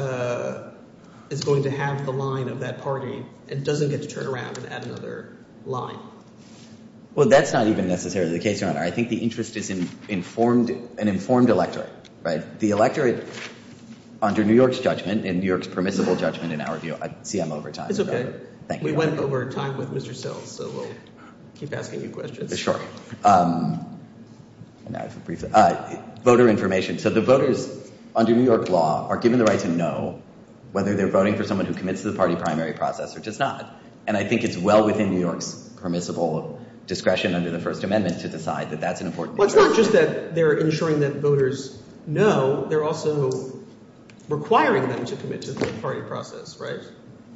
is going to have the line of that party and doesn't get to turn around and add another line. Well, that's not even necessarily the case, Your Honor. I think the interest is in an informed electorate, right? The electorate under New York's judgment and New York's permissible judgment in our view, I see I'm over time. It's okay. Thank you. We went over time with Mr. Sells, so we'll keep asking you questions. Sure. Voter information. So the voters under New York law are given the right to know whether they're voting for someone who commits to the party primary process or does not. And I think it's well within New York's permissible discretion under the First Amendment to decide that that's an important issue. Well, it's not just that they're ensuring that voters know. They're also requiring them to commit to the party process, right?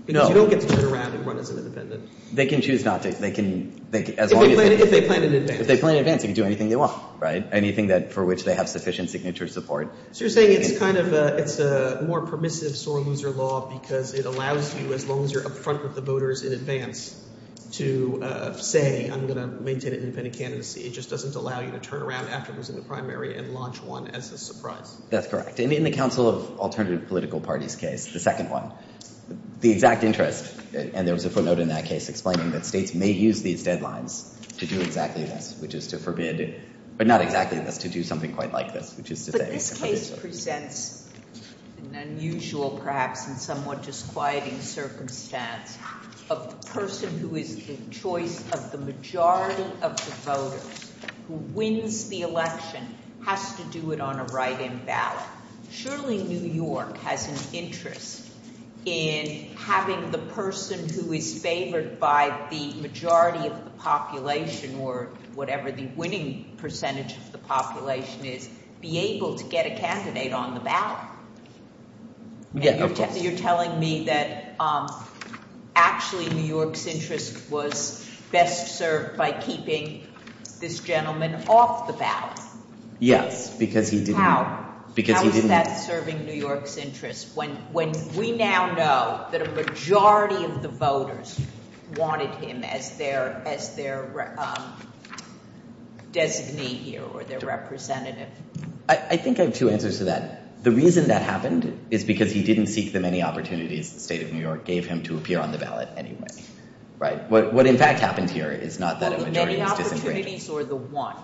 Because you don't get to turn around and run as an independent. They can choose not to. If they plan in advance. If they plan in advance, they can do anything they want, right, anything for which they have sufficient signature support. So you're saying it's kind of a more permissive sore loser law because it allows you, as long as you're up front with the voters in advance, to say, I'm going to maintain an independent candidacy. It just doesn't allow you to turn around after losing the primary and launch one as a surprise. That's correct. And in the Council of Alternative Political Parties case, the second one, the exact interest, and there was a footnote in that case explaining that states may use these deadlines to do exactly this, which is to forbid, but not exactly this, to do something quite like this. But this case presents an unusual, perhaps in somewhat disquieting circumstance, of the person who is the choice of the majority of the voters who wins the election has to do it on a write-in ballot. Surely New York has an interest in having the person who is favored by the majority of the population or whatever the winning percentage of the population is be able to get a candidate on the ballot. Yeah, of course. And you're telling me that actually New York's interest was best served by keeping this gentleman off the ballot. Yes, because he didn't. How? Because he didn't. How is that serving New York's interest when we now know that a majority of the voters wanted him as their designee here or their representative? I think I have two answers to that. The reason that happened is because he didn't seek the many opportunities the state of New York gave him to appear on the ballot anyway. Right? What in fact happened here is not that a majority was disintegrating. The opportunities or the one?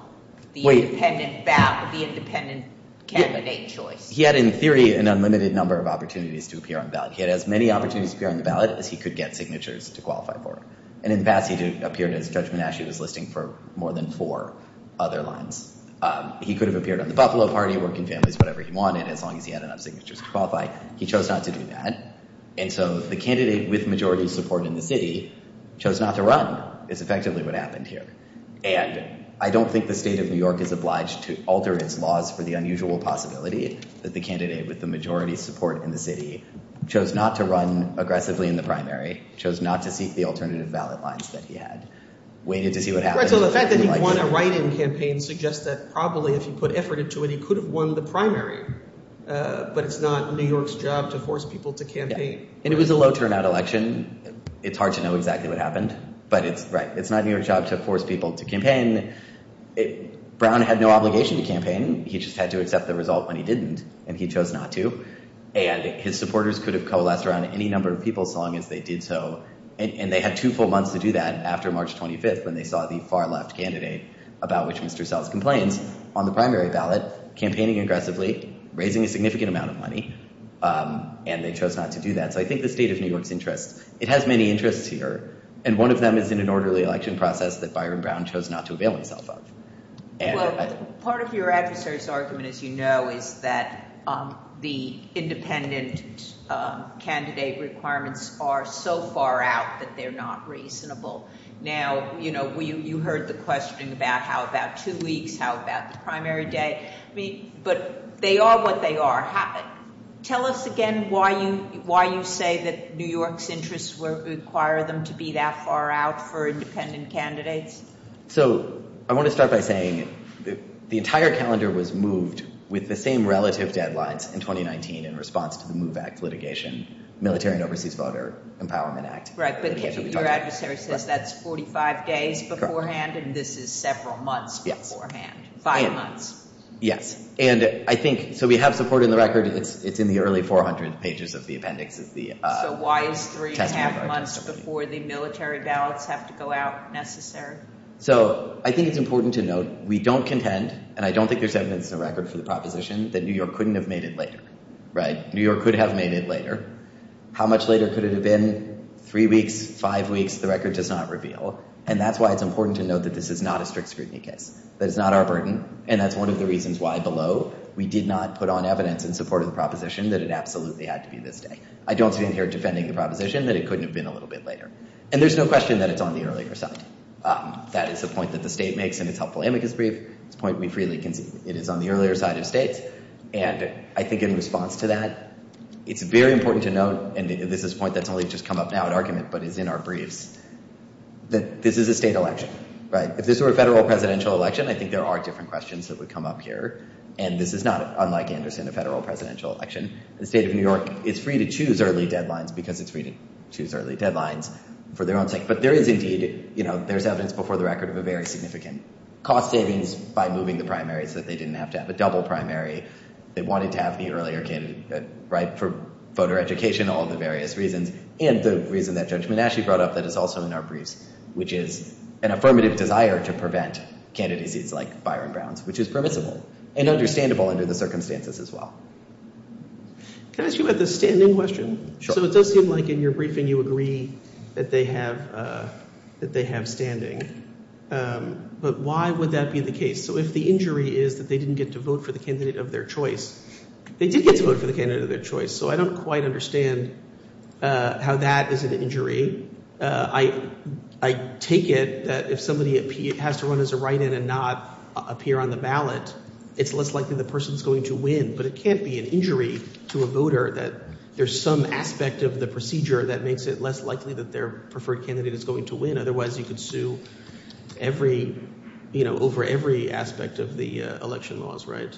Wait. The independent candidate choice. He had in theory an unlimited number of opportunities to appear on the ballot. He had as many opportunities to appear on the ballot as he could get signatures to qualify for. And in the past he appeared as Judge Menasche was listing for more than four other lines. He could have appeared on the Buffalo Party, Working Families, whatever he wanted as long as he had enough signatures to qualify. He chose not to do that. And so the candidate with majority support in the city chose not to run is effectively what happened here. And I don't think the state of New York is obliged to alter its laws for the unusual possibility that the candidate with the majority support in the city chose not to run aggressively in the primary, chose not to seek the alternative ballot lines that he had, waited to see what happened. So the fact that he won a write-in campaign suggests that probably if he put effort into it, he could have won the primary. But it's not New York's job to force people to campaign. And it was a low turnout election. It's hard to know exactly what happened. But it's right. It's not New York's job to force people to campaign. Brown had no obligation to campaign. He just had to accept the result when he didn't. And he chose not to. And his supporters could have coalesced around any number of people so long as they did so. And they had two full months to do that after March 25th when they saw the far left candidate, about which Mr. Sells complains, on the primary ballot, campaigning aggressively, raising a significant amount of money. And they chose not to do that. So I think the state of New York's interest, it has many interests here. And one of them is in an orderly election process that Byron Brown chose not to avail himself of. Well, part of your adversary's argument, as you know, is that the independent candidate requirements are so far out that they're not reasonable. Now, you heard the questioning about how about two weeks, how about the primary day. But they are what they are. Tell us again why you say that New York's interests require them to be that far out for independent candidates. So I want to start by saying the entire calendar was moved with the same relative deadlines in 2019 in response to the MOVE Act litigation, Military and Overseas Voter Empowerment Act. Right, but your adversary says that's 45 days beforehand and this is several months beforehand, five months. Yes, and I think, so we have support in the record, it's in the early 400 pages of the appendix of the testimony. So why is three and a half months before the military ballots have to go out necessary? So I think it's important to note we don't contend, and I don't think there's evidence in the record for the proposition, that New York couldn't have made it later. Right, New York could have made it later. How much later could it have been? Three weeks, five weeks, the record does not reveal. And that's why it's important to note that this is not a strict scrutiny case. That it's not our burden, and that's one of the reasons why below we did not put on evidence in support of the proposition that it absolutely had to be this day. I don't stand here defending the proposition that it couldn't have been a little bit later. And there's no question that it's on the earlier side. That is the point that the state makes in its helpful amicus brief. It's a point we freely concede. It is on the earlier side of states. And I think in response to that, it's very important to note, and this is a point that's only just come up now in argument but is in our briefs, that this is a state election. Right, if this were a federal presidential election, I think there are different questions that would come up here. And this is not, unlike Anderson, a federal presidential election. The state of New York is free to choose early deadlines because it's free to choose early deadlines for their own sake. But there is indeed, you know, there's evidence before the record of a very significant cost savings by moving the primaries so that they didn't have to have a double primary. They wanted to have the earlier candidate, right, for voter education, all the various reasons. And the reason that Judge Monashi brought up that is also in our briefs, which is an affirmative desire to prevent candidacies like Byron Brown's, which is permissible and understandable under the circumstances as well. Can I ask you about the standing question? So it does seem like in your briefing you agree that they have standing. But why would that be the case? So if the injury is that they didn't get to vote for the candidate of their choice, they did get to vote for the candidate of their choice. So I don't quite understand how that is an injury. I take it that if somebody has to run as a write-in and not appear on the ballot, it's less likely the person is going to win. But it can't be an injury to a voter that there's some aspect of the procedure that makes it less likely that their preferred candidate is going to win. Otherwise, you could sue every, you know, over every aspect of the election laws, right?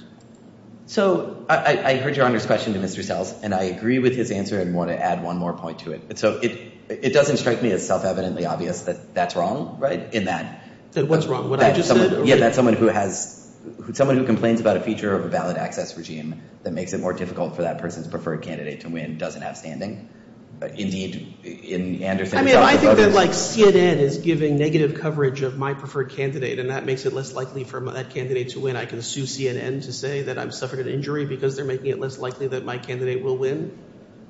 So I heard Your Honor's question to Mr. Sells, and I agree with his answer and want to add one more point to it. So it doesn't strike me as self-evidently obvious that that's wrong, right, in that. That what's wrong, what I just said? Yeah, that someone who has – someone who complains about a feature of a ballot access regime that makes it more difficult for that person's preferred candidate to win doesn't have standing. I mean, if I think that, like, CNN is giving negative coverage of my preferred candidate and that makes it less likely for that candidate to win, I can sue CNN to say that I've suffered an injury because they're making it less likely that my candidate will win?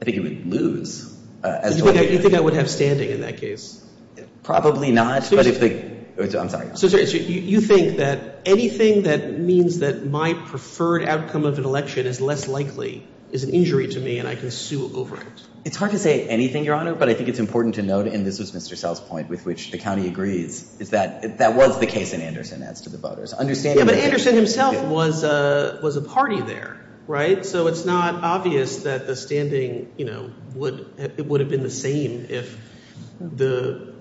I think you would lose. You think I would have standing in that case? Probably not, but if the – I'm sorry. So you think that anything that means that my preferred outcome of an election is less likely is an injury to me and I can sue over it? It's hard to say anything, Your Honor, but I think it's important to note, and this was Mr. Sells' point with which the county agrees, is that that was the case in Anderson as to the voters. Yeah, but Anderson himself was a party there, right? So it's not obvious that the standing would – it would have been the same if the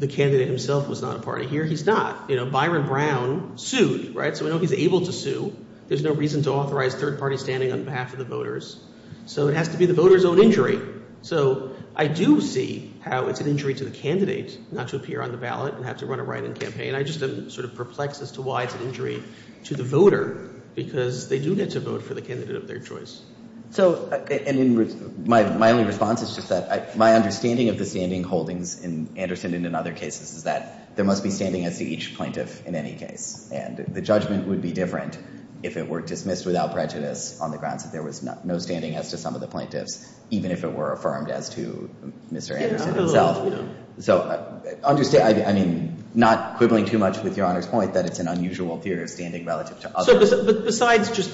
candidate himself was not a party here. He's not. Byron Brown sued, right? So we know he's able to sue. There's no reason to authorize third-party standing on behalf of the voters. So it has to be the voters' own injury. So I do see how it's an injury to the candidate not to appear on the ballot and have to run a write-in campaign. I just am sort of perplexed as to why it's an injury to the voter because they do get to vote for the candidate of their choice. So – and my only response is just that my understanding of the standing holdings in Anderson and in other cases is that there must be standing as to each plaintiff in any case. And the judgment would be different if it were dismissed without prejudice on the grounds that there was no standing as to some of the plaintiffs, even if it were affirmed as to Mr. Anderson himself. So – I mean, not quibbling too much with Your Honor's point that it's an unusual theory of standing relative to others. But besides just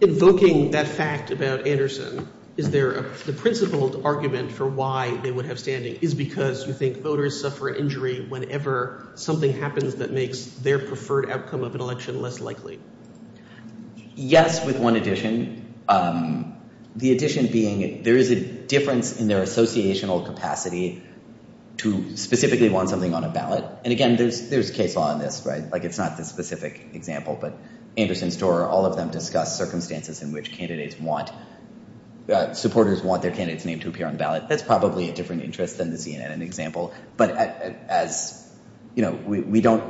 invoking that fact about Anderson, is there a – the principled argument for why they would have standing is because you think voters suffer injury whenever something happens that makes their preferred outcome of an election less likely? Yes, with one addition. The addition being there is a difference in their associational capacity to specifically want something on a ballot. And again, there's case law in this, right? Like, it's not the specific example, but Anderson, Storer, all of them discuss circumstances in which candidates want – supporters want their candidate's name to appear on the ballot. That's probably a different interest than the CNN example. But as – you know, we don't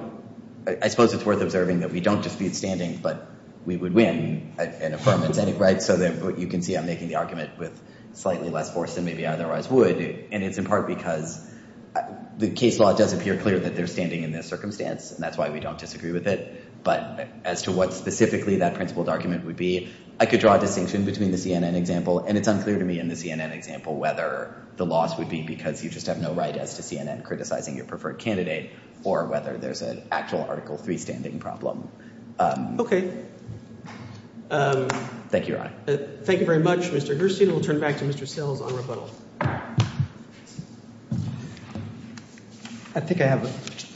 – I suppose it's worth observing that we don't dispute standing, but we would win an affirmative, right? So you can see I'm making the argument with slightly less force than maybe I otherwise would. And it's in part because the case law does appear clear that they're standing in this circumstance, and that's why we don't disagree with it. But as to what specifically that principled argument would be, I could draw a distinction between the CNN example – and it's unclear to me in the CNN example whether the loss would be because you just have no right as to CNN criticizing your preferred candidate or whether there's an actual Article III standing problem. Thank you, Your Honor. Thank you very much, Mr. Gerstein. We'll turn it back to Mr. Sills on rebuttal. I think I have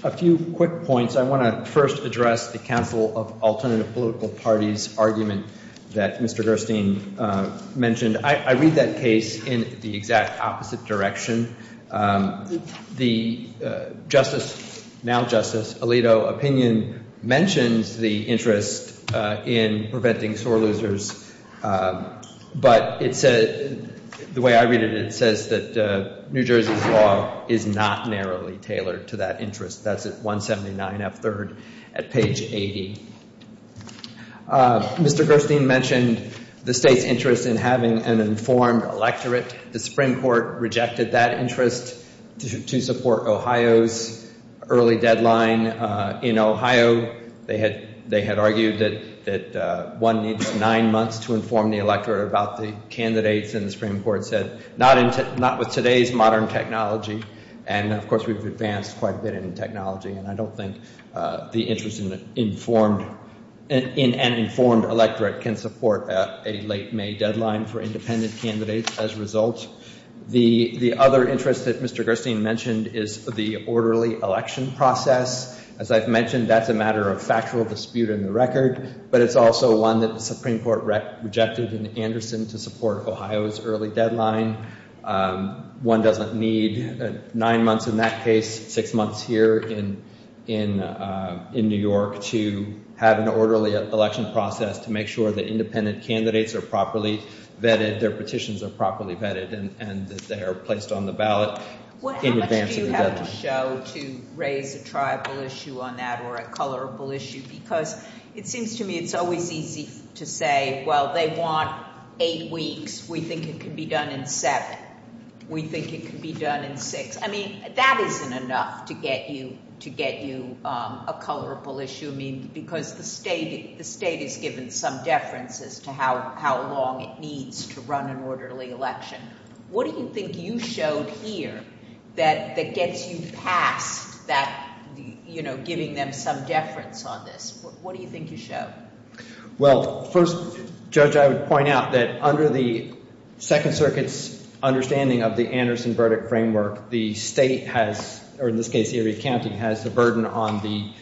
a few quick points. I want to first address the Council of Alternative Political Parties argument that Mr. Gerstein mentioned. I read that case in the exact opposite direction. The Justice – now Justice – Alito opinion mentions the interest in preventing sore losers, but it says – the way I read it, it says that New Jersey's law is not narrowly tailored to that interest. That's at 179F3rd at page 80. Mr. Gerstein mentioned the state's interest in having an informed electorate. The Supreme Court rejected that interest to support Ohio's early deadline. In Ohio, they had argued that one needs nine months to inform the electorate about the candidates, and the Supreme Court said not with today's modern technology. And, of course, we've advanced quite a bit in technology, and I don't think the interest in an informed electorate can support a late May deadline for independent candidates as a result. The other interest that Mr. Gerstein mentioned is the orderly election process. As I've mentioned, that's a matter of factual dispute in the record, but it's also one that the Supreme Court rejected in Anderson to support Ohio's early deadline. One doesn't need nine months in that case, six months here in New York, to have an orderly election process to make sure that independent candidates are properly vetted, their petitions are properly vetted, and that they are placed on the ballot in advance of the deadline. What do you have to show to raise a tribal issue on that or a colorable issue? Because it seems to me it's always easy to say, well, they want eight weeks. We think it can be done in seven. We think it can be done in six. I mean, that isn't enough to get you a colorable issue, because the state has given some deference as to how long it needs to run an orderly election. What do you think you showed here that gets you past that, you know, giving them some deference on this? What do you think you showed? Well, first, Judge, I would point out that under the Second Circuit's understanding of the Anderson verdict framework, the state has, or in this case Erie County, has the burden on the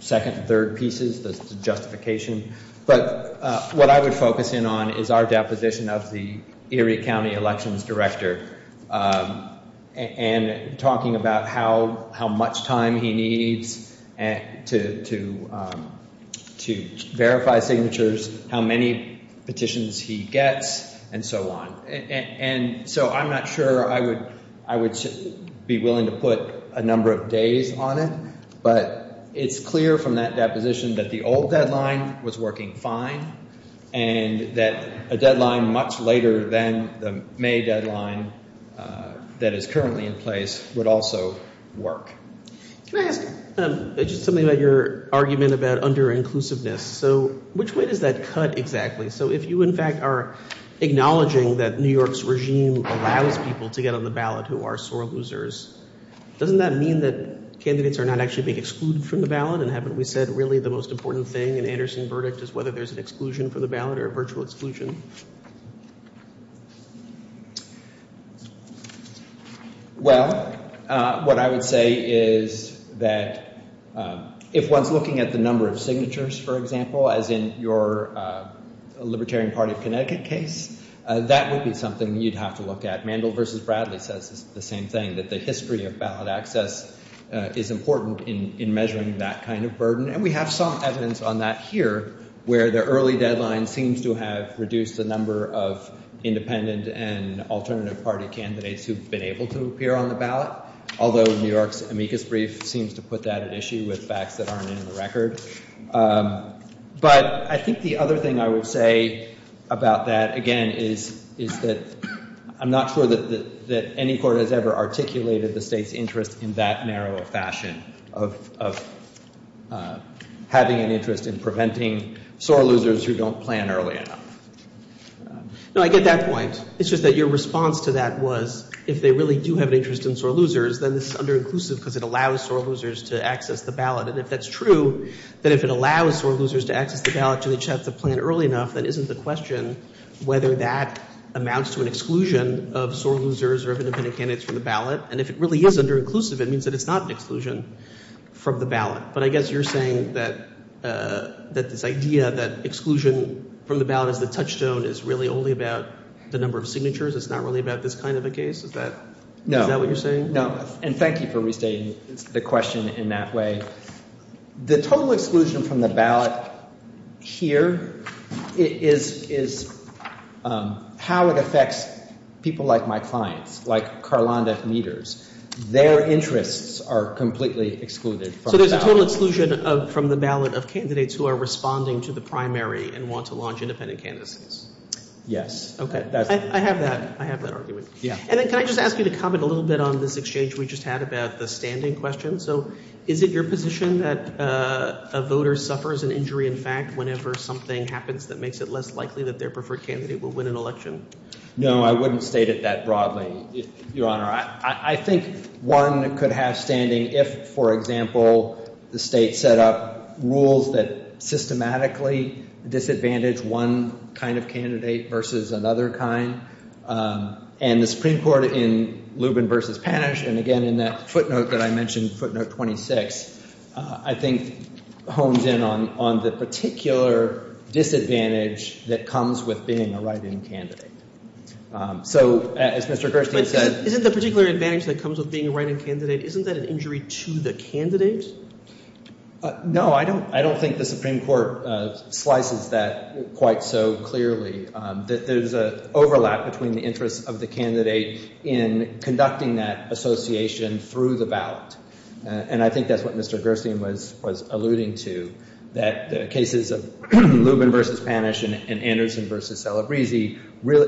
second and third pieces, the justification. But what I would focus in on is our deposition of the Erie County elections director and talking about how much time he needs to verify signatures, how many petitions he gets, and so on. And so I'm not sure I would be willing to put a number of days on it, but it's clear from that deposition that the old deadline was working fine and that a deadline much later than the May deadline that is currently in place would also work. Can I ask just something about your argument about underinclusiveness? So which way does that cut exactly? So if you, in fact, are acknowledging that New York's regime allows people to get on the ballot who are sore losers, doesn't that mean that candidates are not actually being excluded from the ballot? And haven't we said really the most important thing in the Anderson verdict is whether there's an exclusion from the ballot or a virtual exclusion? Well, what I would say is that if one's looking at the number of signatures, for example, as in your Libertarian Party of Connecticut case, that would be something you'd have to look at. Mandel versus Bradley says the same thing, that the history of ballot access is important in measuring that kind of burden. And we have some evidence on that here where the early deadline seems to have reduced the number of independent and alternative party candidates who've been able to appear on the ballot, although New York's amicus brief seems to put that at issue with facts that aren't in the record. But I think the other thing I would say about that, again, is that I'm not sure that any court has ever articulated the state's interest in that narrow fashion of having an interest in preventing sore losers who don't plan early enough. No, I get that point. It's just that your response to that was if they really do have an interest in sore losers, then this is under-inclusive because it allows sore losers to access the ballot. And if that's true, then if it allows sore losers to access the ballot, then they just have to plan early enough, then isn't the question whether that amounts to an exclusion of sore losers or independent candidates from the ballot? And if it really is under-inclusive, it means that it's not an exclusion from the ballot. But I guess you're saying that this idea that exclusion from the ballot is the touchstone is really only about the number of signatures. It's not really about this kind of a case. Is that what you're saying? No. And thank you for restating the question in that way. The total exclusion from the ballot here is how it affects people like my clients, like Karlanda Meaders. Their interests are completely excluded from the ballot. So there's a total exclusion from the ballot of candidates who are responding to the primary and want to launch independent candidacies? Yes. Okay. I have that. I have that argument. Yeah. And then can I just ask you to comment a little bit on this exchange we just had about the standing question? So is it your position that a voter suffers an injury in fact whenever something happens that makes it less likely that their preferred candidate will win an election? No, I wouldn't state it that broadly, Your Honor. I think one could have standing if, for example, the state set up rules that systematically disadvantage one kind of candidate versus another kind. And the Supreme Court in Lubin v. Panish, and again in that footnote that I mentioned, footnote 26, I think hones in on the particular disadvantage that comes with being a write-in candidate. So as Mr. Gerstein said — But isn't the particular advantage that comes with being a write-in candidate, isn't that an injury to the candidate? No, I don't think the Supreme Court slices that quite so clearly. There's an overlap between the interests of the candidate in conducting that association through the ballot. And I think that's what Mr. Gerstein was alluding to, that the cases of Lubin v. Panish and Anderson v. Celebrezzi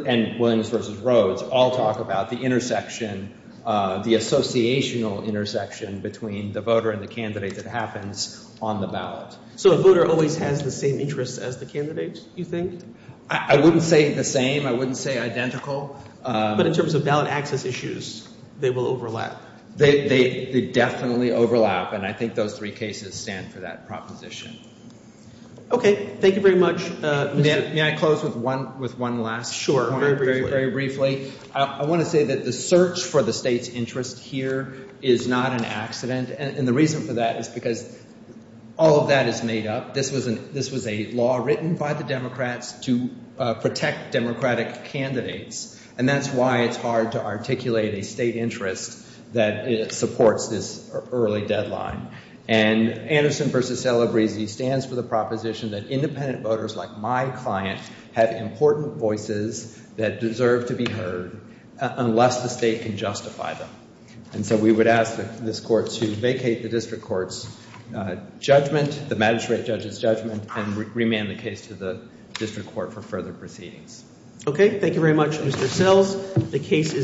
and Williams v. Rhodes all talk about the intersection, the associational intersection between the voter and the candidate that happens on the ballot. So a voter always has the same interests as the candidate, you think? I wouldn't say the same. I wouldn't say identical. But in terms of ballot access issues, they will overlap. They definitely overlap. And I think those three cases stand for that proposition. Okay. Thank you very much, Mr. — May I close with one last point? Sure. Very briefly. I want to say that the search for the state's interest here is not an accident. And the reason for that is because all of that is made up. This was a law written by the Democrats to protect Democratic candidates. And that's why it's hard to articulate a state interest that supports this early deadline. And Anderson v. Celebrezzi stands for the proposition that independent voters like my client have important voices that deserve to be heard unless the state can justify them. And so we would ask this court to vacate the district court's judgment, the magistrate judge's judgment, and remand the case to the district court for further proceedings. Okay. Thank you very much, Mr. Sells.